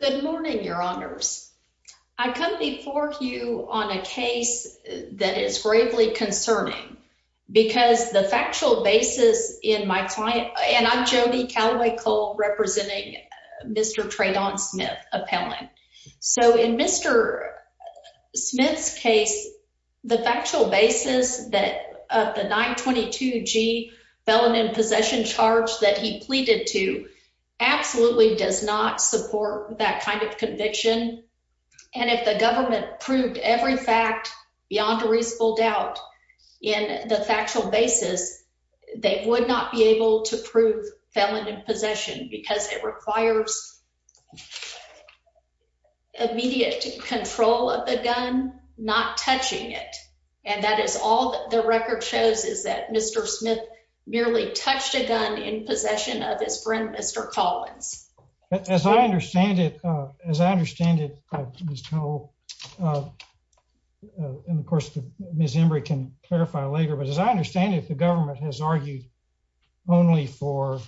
Good morning, your honors. I come before you on a case that is gravely concerning because the factual basis in my client, and I'm Jody Calaway-Cole representing Mr. Traydon Smith appellant. So in Mr. Smith's case, the factual basis that the 922G felon in possession charge that he pleaded to absolutely does not support that kind of conviction. And if the government proved every fact beyond a reasonable doubt in the factual basis, they would not be able to prove felon in possession because it requires immediate control of the gun, not touching it. And that is all the record shows is that Mr. Smith merely touched a gun in possession of his friend, Mr. Collins. As I understand it, as I understand it, Ms. Cole, and of course, Ms. Embry can clarify later, but as I understand it, the government has argued only for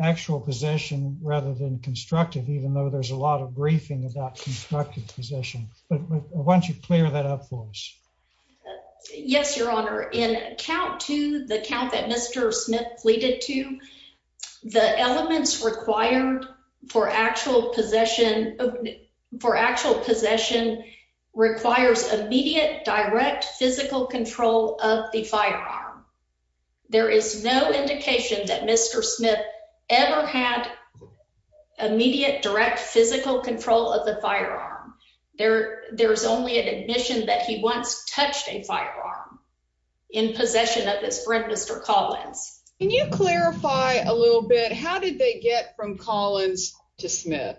actual possession rather than constructive, even though there's a lot of briefing about constructive possession. But why don't you clear that up for us? Yes, your honor. In account to the count that Mr. Smith pleaded to, the elements required for actual possession for actual possession requires immediate direct physical control of the firearm. There is no indication that Mr. Smith ever had immediate direct physical control of the firearm. There's only an admission that he once touched a firearm in possession of his friend, Mr. Collins. Can you clarify a little bit? How did they get from Collins to Smith?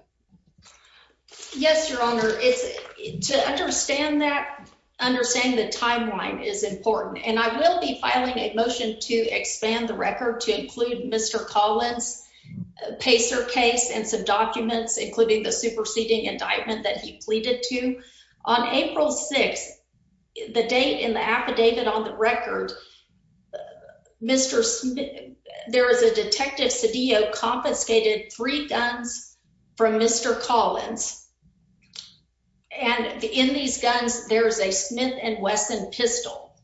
Yes, your honor. To understand that, understanding the timeline is important, and I will be filing a motion to expand the record to include Mr. Collins' Pacer case and some documents, including the superseding indictment that he pleaded to. On April 6th, the date in the affidavit on the record, there is a Detective Cedillo confiscated three guns from Mr. Collins, and in these guns, there is a Smith & Wesson pistol.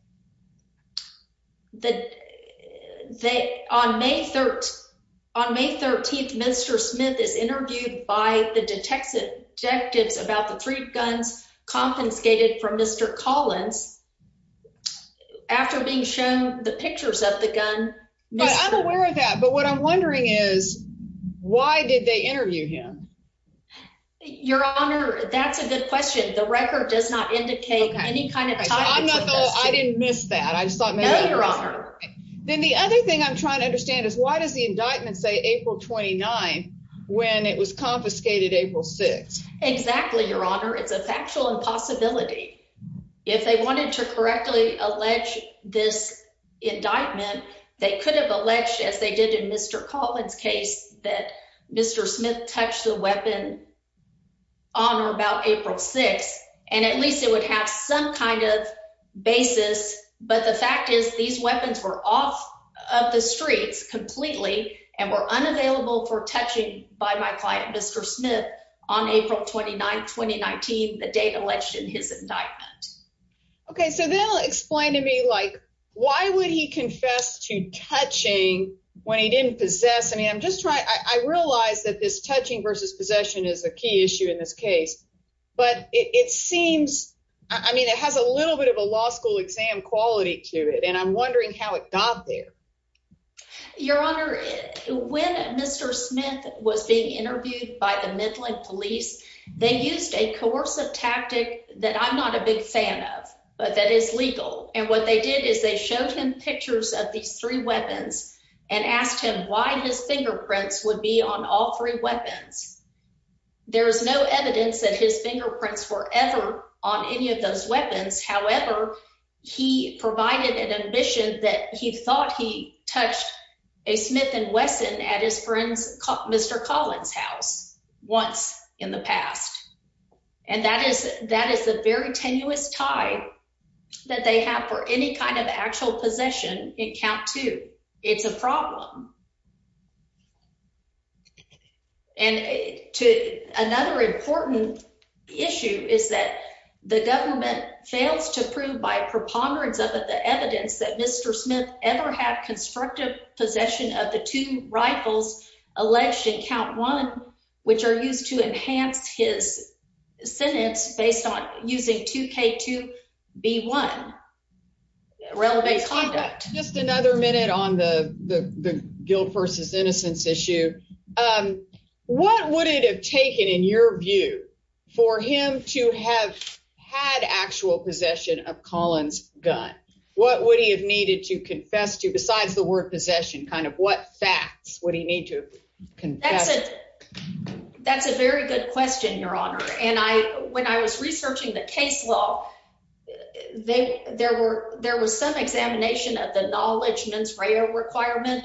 On May 13th, Mr. Smith is interviewed by the detectives about the three guns confiscated from Mr. Collins after being shown the pictures of the gun. I'm aware of that, but what I'm wondering is why did they interview him? Your honor, that's a good question. The record does not indicate any kind of time. I didn't miss that. Then the other thing I'm trying to understand is why does the indictment say April 29 when it was confiscated April 6th? Exactly, your honor. It's a factual impossibility. If they wanted to correctly allege this indictment, they could have alleged, as they did in Mr. Collins' case, that Mr. Smith touched the weapon on or about April 6th, and at least it would have some kind of basis, but the fact is these weapons were off of the streets completely and were unavailable for touching by my client, Mr. Smith, on April 29, 2019, the date alleged in his indictment. Okay, so then explain to me why would he confess to touching when he didn't possess? I realize that this touching versus possession is a key issue in this case, but it seems, I mean, it has a little bit of a law school exam quality to it, and I'm wondering how it got there. Your honor, when Mr. Smith was being interviewed by the Midland police, they used a coercive tactic that I'm not a big fan of, but that is legal, and what they did is they showed him pictures of these three weapons and asked him why his fingerprints would be on all three weapons. There is no evidence that his fingerprints were ever on any of those weapons. However, he provided an admission that he thought he touched a Smith and Wesson at his friend's Mr. Collins' house once in the past, and that is a very tenuous tie that they have for any kind of actual possession in count two. It's a problem, and another important issue is that the government fails to prove by preponderance of the evidence that Mr. Smith ever had constructive possession of the two rifles alleged in count one, which are used to enhance his sentence based on using 2K2B1 relevant conduct. Just another minute on the guilt versus innocence issue. What would it have taken, in your view, for him to have had actual possession of Collins' gun? What would he have needed to confess to, besides the word possession, kind of what facts would he need to confess? That's a very good question, your honor, and when I was researching the case law, there was some examination of the knowledgeman's requirement,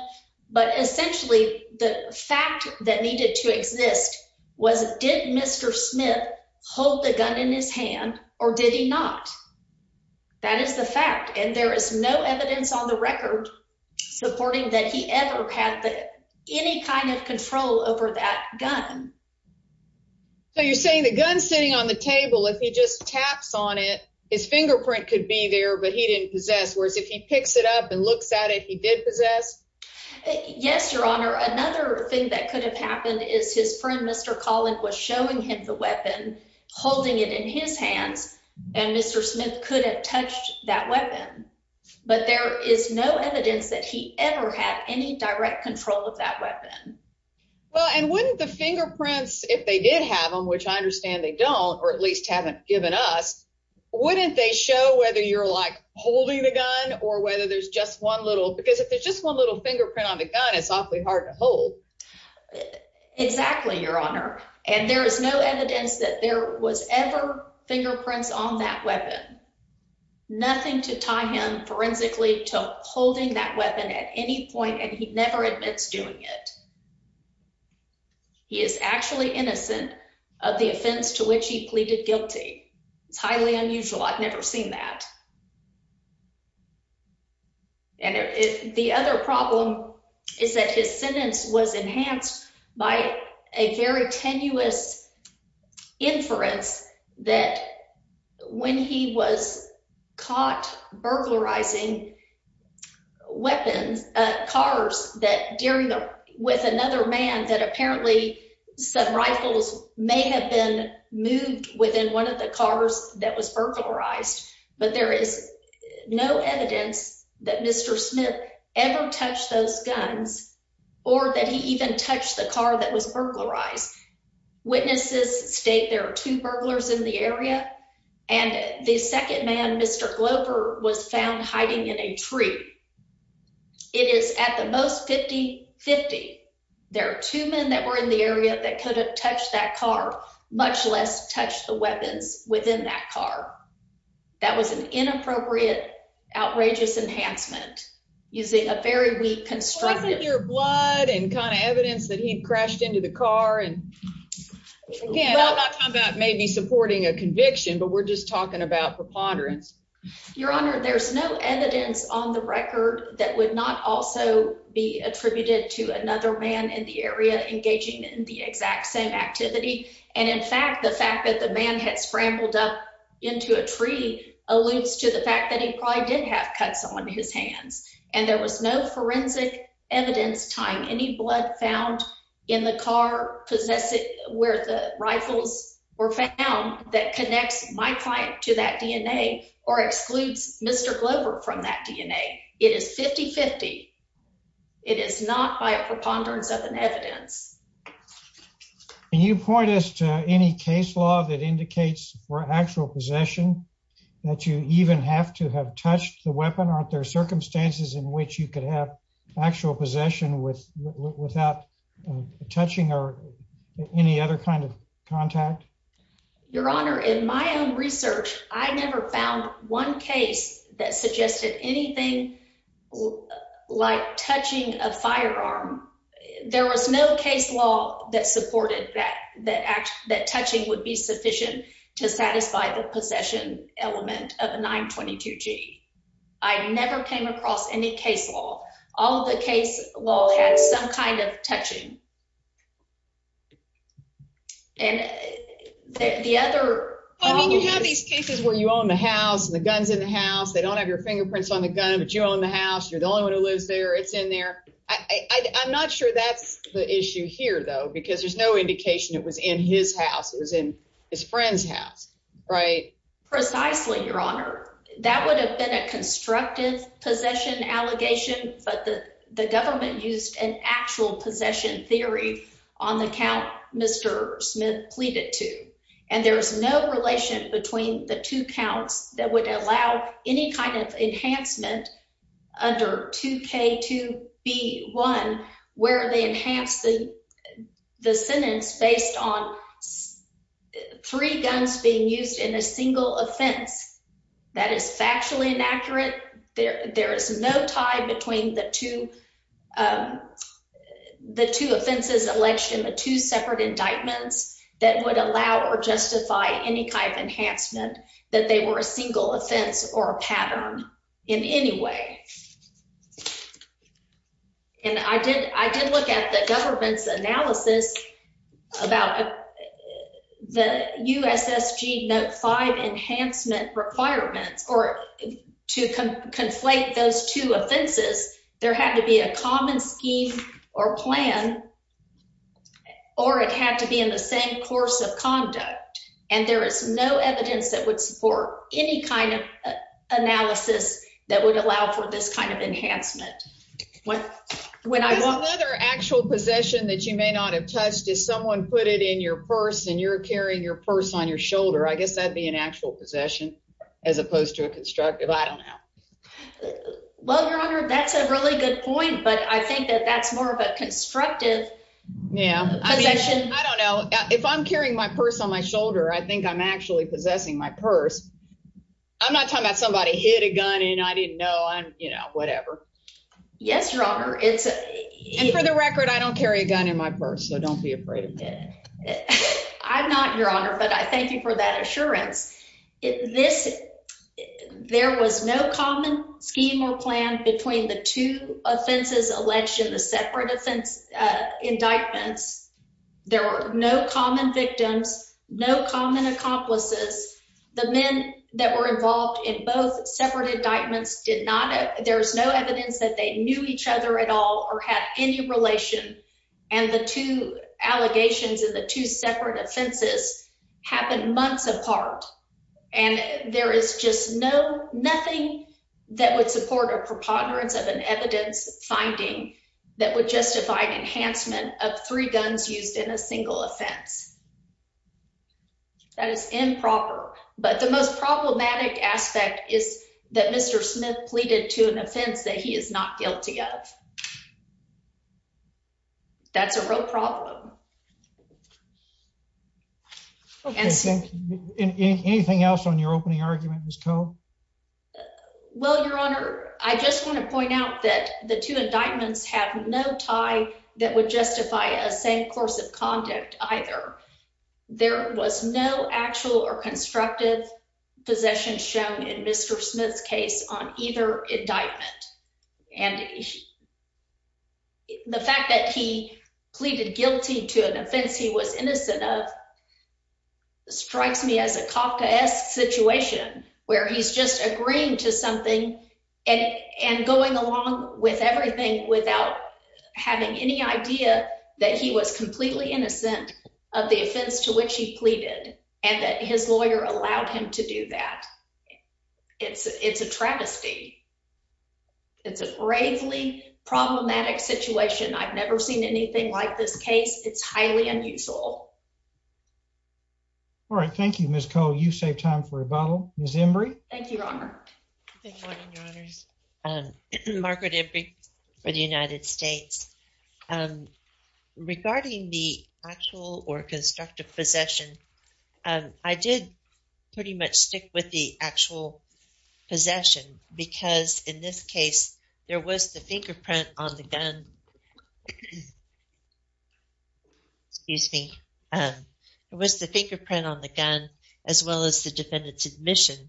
but essentially, the fact that needed to exist was, did Mr. Smith hold the gun in his hand, or did he not? That is the fact, and there is no evidence on the record supporting that he ever had any kind of control over that gun. So you're saying the gun's sitting on the table, if he just taps on it, his fingerprint could be there, but he didn't possess, whereas if he picks it up and looks at it, he did possess? Yes, your honor. Another thing that could have happened is his friend, Mr. Collins, was showing him the weapon, holding it in his hands, and Mr. Smith could have touched that weapon, but there is no evidence that he ever had any direct control of that weapon. Well, and wouldn't the fingerprints, if they did have them, which I understand they don't, or at least haven't given us, wouldn't they show whether you're, like, holding the gun, or whether there's just one little, because if there's just one little fingerprint on the gun, it's awfully hard to hold. Exactly, your honor, and there is no evidence that there was ever fingerprints on that weapon. Nothing to tie him, forensically, to holding that weapon at any point, and he never admits doing it. He is actually innocent of the offense to which he pleaded guilty. It's highly unusual. I've never seen that, and the other problem is that his sentence was enhanced by a very tenuous inference that when he was caught burglarizing cars with another man that apparently some rifles may have been moved within one of the cars that was burglarized, but there is no evidence that Mr. Smith ever touched those guns, or that he even touched the car that was burglarized. Witnesses state there are two burglars in the area, and the second man, Mr. Glover, was found hiding in a tree. It is at the most 50-50. There are two men that were in the area that could have touched that car, much less touched the weapons within that car. That was an inappropriate, outrageous enhancement using a very weak constructive... I could hear blood and kind of evidence that he crashed into the car, and again, I'm not talking about maybe supporting a conviction, but we're just talking about preponderance. Your honor, there's no evidence on the record that would not also be attributed to another man in the area engaging in the exact same activity, and in fact, the fact that the man had scrambled up into a tree alludes to the fact that he probably did have cuts on his hands, and there was no forensic evidence tying any blood found in the car where the rifles were found that connects my client to that DNA or excludes Mr. Glover from that DNA. It is 50-50. It is not by a preponderance of an evidence. Can you point us to any case law that indicates for actual possession that you even have to have touched the weapon? Aren't there circumstances in which you could have actual possession without touching or any other kind of contact? Your honor, in my own research, I never found one case that suggested anything like touching a firearm. There was no case law that supported that touching would be sufficient to satisfy the possession element of a 922G. I never came across any case law. All of the case law had some kind of touching. You have these cases where you own the house and the gun's in the house. They don't have your fingerprints on the gun, but you own the house. You're the only one who lives there. It's in there. I'm not sure that's the issue here, though, because there's no indication it was in his house. It was in his friend's house, right? Precisely, your honor. That would have been a the government used an actual possession theory on the count Mr. Smith pleaded to, and there is no relation between the two counts that would allow any kind of enhancement under 2K2B1 where they enhance the sentence based on three guns being used in a single offense. That is factually inaccurate. There is no tie between the two offenses alleged in the two separate indictments that would allow or justify any kind of enhancement that they were a single offense or a pattern in any way. And I did look at the government's analysis about the USSG Note enhancement requirements or to conflate those two offenses. There had to be a common scheme or plan, or it had to be in the same course of conduct. And there is no evidence that would support any kind of analysis that would allow for this kind of enhancement. When I want another actual possession that you may not have touched, if someone put it in your purse and you're carrying your purse on your shoulder, I guess that'd be an actual possession as opposed to a constructive. I don't know. Well, your honor, that's a really good point, but I think that that's more of a constructive. Yeah, I don't know if I'm carrying my purse on my shoulder. I think I'm actually possessing my purse. I'm not talking about somebody hit a gun and I didn't know I'm, you know, whatever. Yes, your honor. It's for the record. I don't carry a gun in my purse, so don't be afraid of it. I'm not, your honor, but I thank you for that assurance. This there was no common scheme or plan between the two offenses alleged in the separate offense indictments. There were no common victims, no common accomplices. The men that were involved in both separate indictments did not. There's no evidence that they knew each other at all or had any relation. And the two allegations in the two separate offenses happened months apart. And there is just no nothing that would support a preponderance of an evidence finding that would justify an enhancement of three guns used in a single offense. That is improper. But the most problematic aspect is that Mr. Smith pleaded to an offense that he is not guilty of. That's a real problem. Anything else on your opening argument was code. Well, your honor, I just want to point out that the two indictments have no tie that would justify a same course of conduct either. There was no actual or constructive possession shown in Mr. Smith's case on either indictment. And the fact that he pleaded guilty to an offense he was innocent of strikes me as a Kafka-esque situation where he's just agreeing to something and going along with everything without having any idea that he was completely innocent of the offense to which pleaded and that his lawyer allowed him to do that. It's a travesty. It's a gravely problematic situation. I've never seen anything like this case. It's highly unusual. All right. Thank you, Ms. Cole. You save time for a bottle. Ms. Embry. Thank you, Your Honor. Margaret Embry for the United States. And regarding the actual or constructive possession, I did pretty much stick with the actual possession because in this case, there was the fingerprint on the gun. Excuse me. It was the fingerprint on the gun, as well as the defendant's admission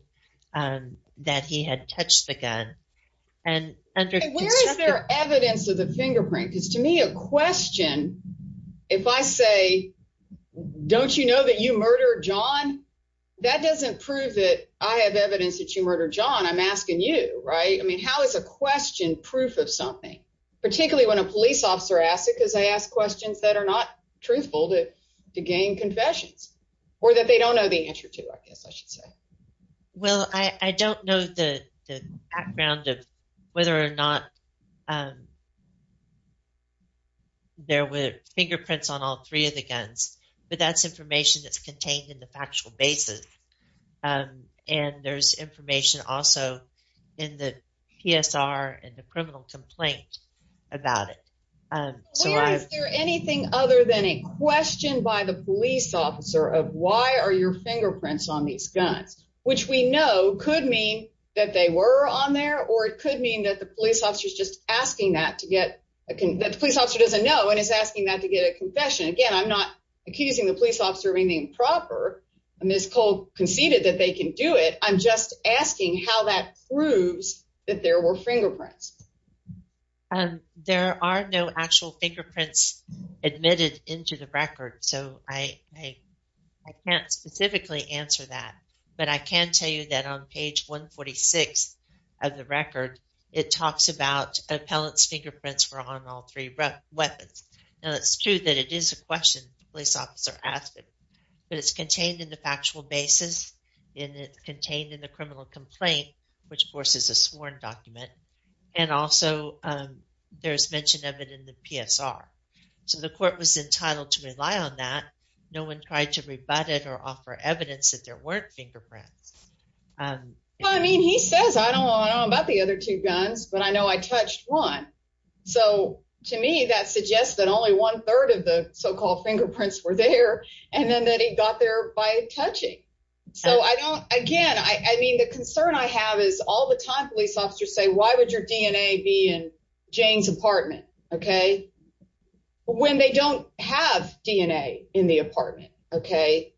that he had touched the gun. And where is there evidence of the fingerprint? Because to me, a question, if I say, don't you know that you murdered John? That doesn't prove that I have evidence that you murdered John. I'm asking you, right? I mean, how is a question proof of something? Particularly when a police officer asks it because they ask questions that are not truthful to gain confessions or that they don't know the answer to, I guess I should say. Well, I don't know the background of whether or not there were fingerprints on all three of the guns, but that's information that's contained in the factual basis. And there's information also in the PSR and the criminal complaint about it. Is there anything other than a question by the police officer of why are your fingerprints on these guns? Which we know could mean that they were on there, or it could mean that the police officer is just asking that to get, that the police officer doesn't know and is asking that to get a confession. Again, I'm not accusing the police officer of anything improper. Ms. Cole conceded that they can do it. I'm just asking how that proves that there were fingerprints. There are no actual fingerprints admitted into the record. So I can't specifically answer that, but I can tell you that on page 146 of the record, it talks about appellant's fingerprints were on all three weapons. Now it's true that it is a question the police officer asked it, but it's contained in the factual basis and it's contained in the criminal complaint, which of course is a sworn document. And also there's mention of it in the PSR. So the court was entitled to rely on that. No one tried to rebut it or offer evidence that there weren't fingerprints. I mean, he says, I don't know about the other two guns, but I know I touched one. So to me, that suggests that only one third of the so-called fingerprints were there. And then that he got there by touching. So I don't, again, I mean, the concern I have is all the time police officers say, why would your DNA be in Jane's apartment? Okay. When they don't have DNA in the apartment. Okay.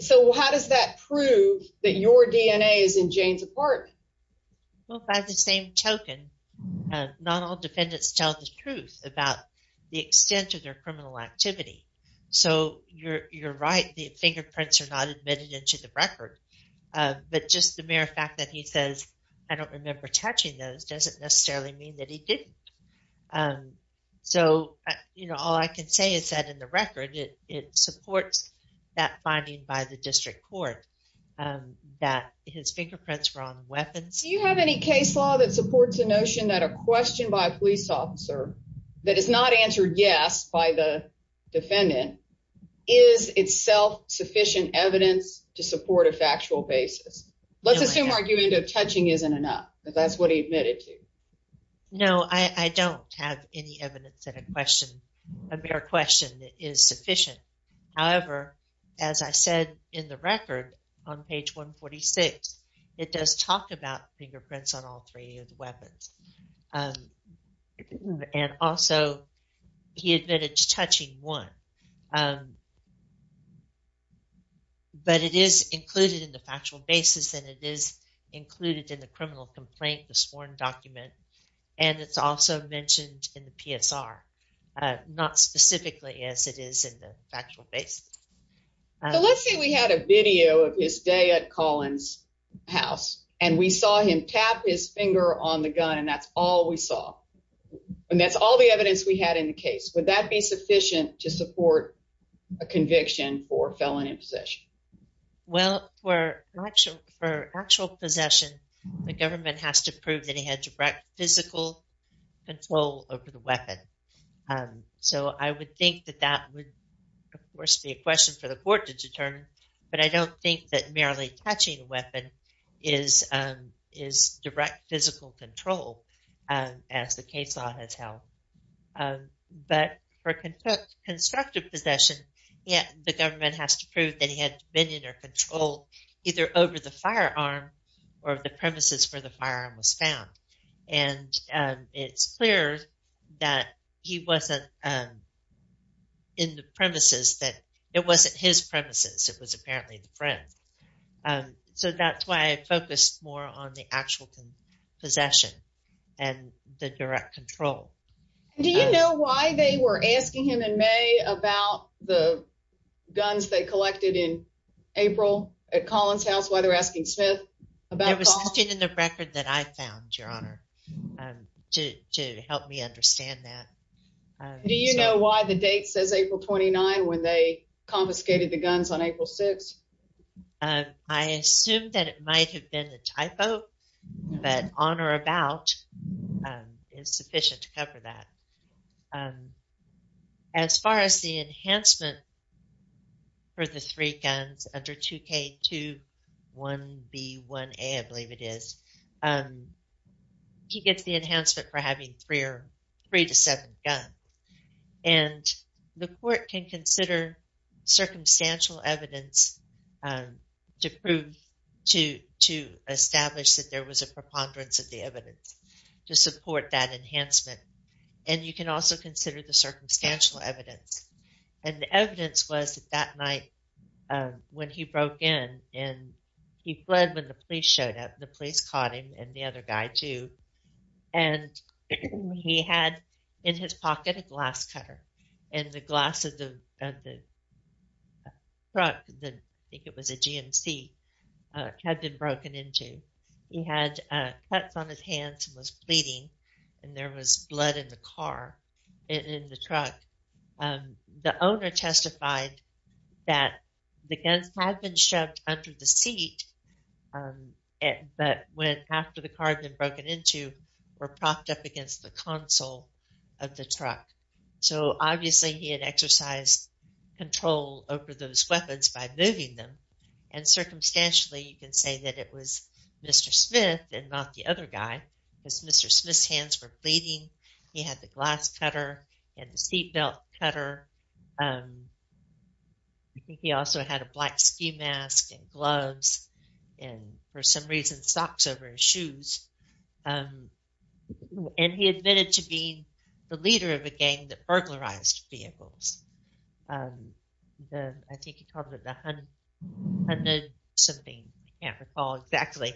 So how does that prove that your DNA is in Jane's apartment? Well, by the same token, not all defendants tell the truth about the extent of their criminal activity. So you're, you're right. The fingerprints are not admitted into the record. But just the mere fact that he was touching those doesn't necessarily mean that he didn't. So, you know, all I can say is that in the record, it, it supports that finding by the district court that his fingerprints were on weapons. Do you have any case law that supports the notion that a question by a police officer that is not answered? Yes. By the defendant is itself sufficient evidence to support a factual basis. Let's assume argument of touching isn't enough, but that's what he admitted to. No, I, I don't have any evidence that a question, a mere question is sufficient. However, as I said, in the record on page 146, it does talk about fingerprints on all three of the weapons. And also he admitted to touching one. Um, but it is included in the factual basis and it is included in the criminal complaint, the sworn document. And it's also mentioned in the PSR, uh, not specifically as it is in the factual base. So let's say we had a video of his day at Collins house and we saw him tap his finger on the gun and that's all we saw. And that's all the evidence we had in the case. Would that be to support a conviction for felony possession? Well, for actual, for actual possession, the government has to prove that he had direct physical control over the weapon. Um, so I would think that that would of course be a question for the court to determine, but I don't think that touching a weapon is, um, is direct physical control, um, as the case law has held. Um, but for constructive possession, yeah, the government has to prove that he had dominion or control either over the firearm or the premises where the firearm was found. And, um, it's clear that he wasn't, um, in the premises that it wasn't his premises. It was apparently the front. Um, so that's why I focused more on the actual possession and the direct control. Do you know why they were asking him in May about the guns they collected in April at Collins house? Why they're asking Smith? There was something in the record that I found your honor, to, to help me understand that. Do you know why the date says April 29 when they confiscated the guns? Um, I assume that it might have been a typo, but on or about, um, is sufficient to cover that. Um, as far as the enhancement for the three guns under 2K21B1A, I believe it is, um, he gets the enhancement for having three or three to seven guns. And the court can consider circumstantial evidence, um, to prove, to, to establish that there was a preponderance of the evidence to support that enhancement. And you can also consider the circumstantial evidence. And the evidence was that night, um, when he broke in and he fled when the police showed up, the police caught him and the other guy too. And he had in his pocket, a glass cutter and the glass of the, uh, the truck that I think it was a GMC, uh, had been broken into. He had, uh, cuts on his hands and was bleeding. And there was blood in the car and in the truck. Um, the owner testified that the guns had been shoved under the seat. Um, and, but when, after the car had been broken into were propped up against the console of the truck. So obviously he had exercised control over those weapons by moving them. And circumstantially, you can say that it was Mr. Smith and not the other guy because Mr. Smith's hands were bleeding. He had the glass cutter and the seatbelt cutter. Um, I think he also had a black ski mask and gloves and for some reason, socks over his shoes. Um, and he admitted to being the leader of a gang that burglarized vehicles. Um, the, I think he called it the 100 something. I can't recall exactly.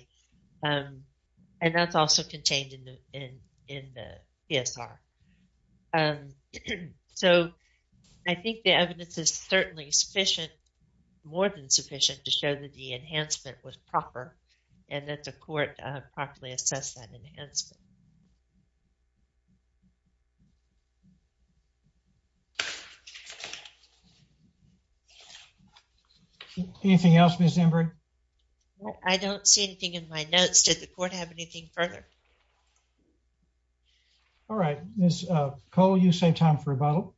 Um, and that's also contained in the, in, in the PSR. Um, so I think the evidence is certainly sufficient, more than sufficient to show that the enhancement was proper and that the court properly assessed that enhancement. Anything else? Miss Ember. I don't see anything in my notes. Did the court have anything further? All right, Miss Cole, you say time for a bottle.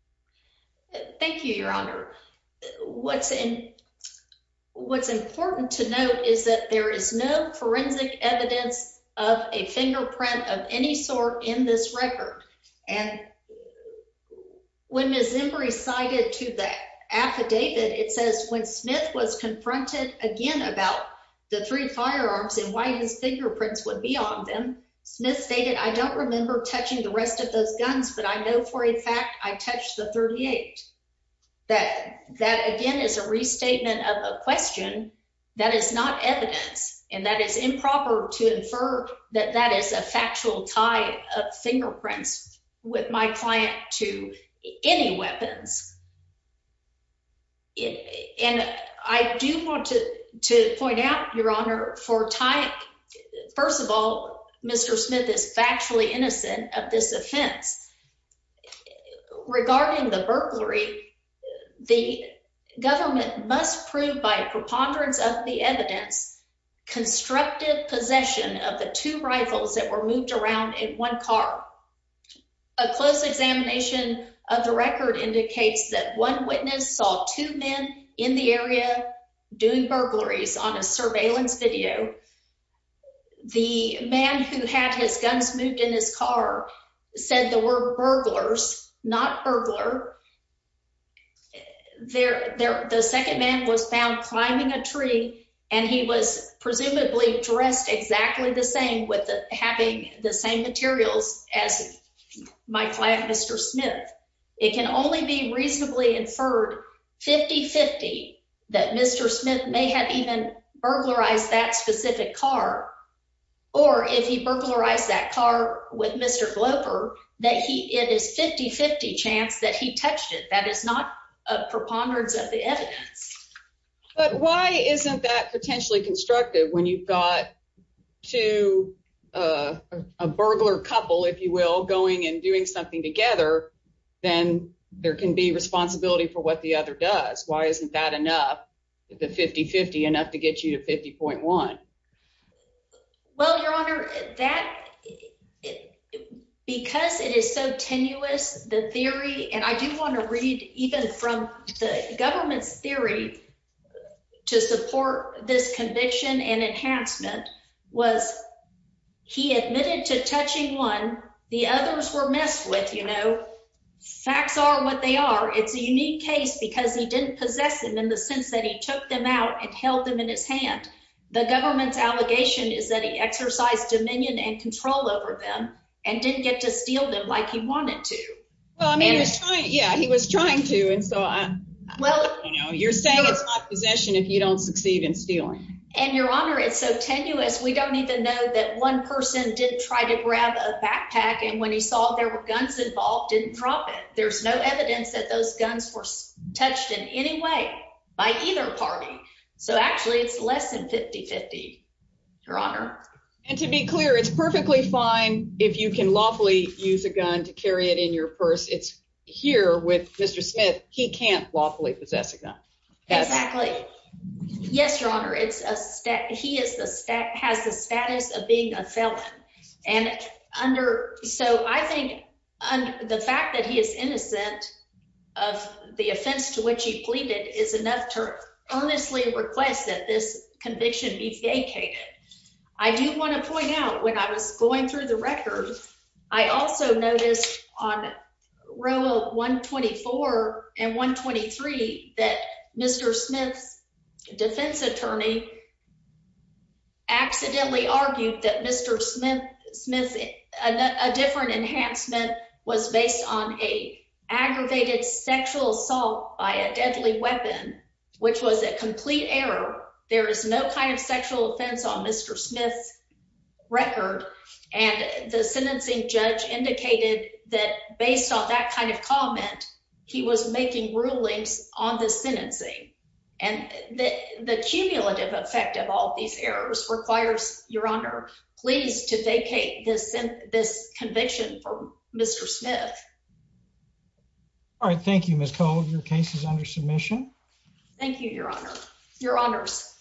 Thank you, Your Honor. What's in what's important to note is that there is no forensic evidence of a fingerprint of any sort in this record. And when Miss Embry cited to the affidavit, it says when Smith was confronted again about the three firearms and why his fingerprints would be on them, Smith stated, I don't remember touching the rest of those guns, but I know for a fact I touched the 38 that that again is a restatement of a question that is not evidence and that is improper to infer that that is a factual tie of fingerprints with my client to any weapons. And I do want to point out, Your Honor, for time. First of all, Mr Smith is factually innocent of this offense. Regarding the burglary, the government must prove by preponderance of the evidence constructive possession of the two rifles that were moved around in one car. A close examination of the record indicates that one witness saw two men in the area doing guns moved in his car, said the word burglars, not burglar. There, the second man was found climbing a tree, and he was presumably dressed exactly the same with having the same materials as my client, Mr Smith. It can only be reasonably inferred 50 50 that Mr Smith may have even burglarized that specific car or if he burglarized that car with Mr Glover that he it is 50 50 chance that he touched it. That is not a preponderance of the evidence. But why isn't that potentially constructive when you've got to a burglar couple, if you will, going and doing something together, then there can be responsibility for what the other does. Why isn't that enough? The 50 50 enough to get you to 50.1? Well, Your Honor, that because it is so tenuous, the theory and I do want to read even from the government's theory to support this conviction and enhancement was he admitted to touching one. The others were messed with. You know, facts are what they are. It's a unique case because he didn't possess him in the sense that he took them out and held them in his hand. The government's allegation is that he exercised dominion and control over them and didn't get to steal them like he wanted to. Well, I mean, yeah, he was trying to. And so well, you know, you're saying it's not possession if you don't succeed in stealing. And, Your Honor, it's so tenuous. We don't even know that one person didn't try to grab a backpack. And when he saw there were guns involved, didn't drop it. There's no evidence that those guns were touched in any way by either party. So actually, it's less than 50 50, Your Honor. And to be clear, it's perfectly fine if you can lawfully use a gun to carry it in your purse. It's here with Mr. He can't lawfully possess a gun. Exactly. Yes, Your Honor. It's a step. He has the status of being a felon. And under so I think the fact that he is innocent of the offense to which he pleaded is enough to earnestly request that this conviction be vacated. I do want to point out when I was row 124 and 1 23 that Mr. Smith's defense attorney accidentally argued that Mr. Smith Smith, a different enhancement was based on a aggravated sexual assault by a deadly weapon, which was a complete error. There is no kind of sexual assault. That kind of comment. He was making rulings on the sentencing, and the cumulative effect of all these errors requires, Your Honor, please to vacate this this conviction for Mr. Smith. All right. Thank you, Miss Cole. Your case is under submission. Thank you, Your Honor. Your honors.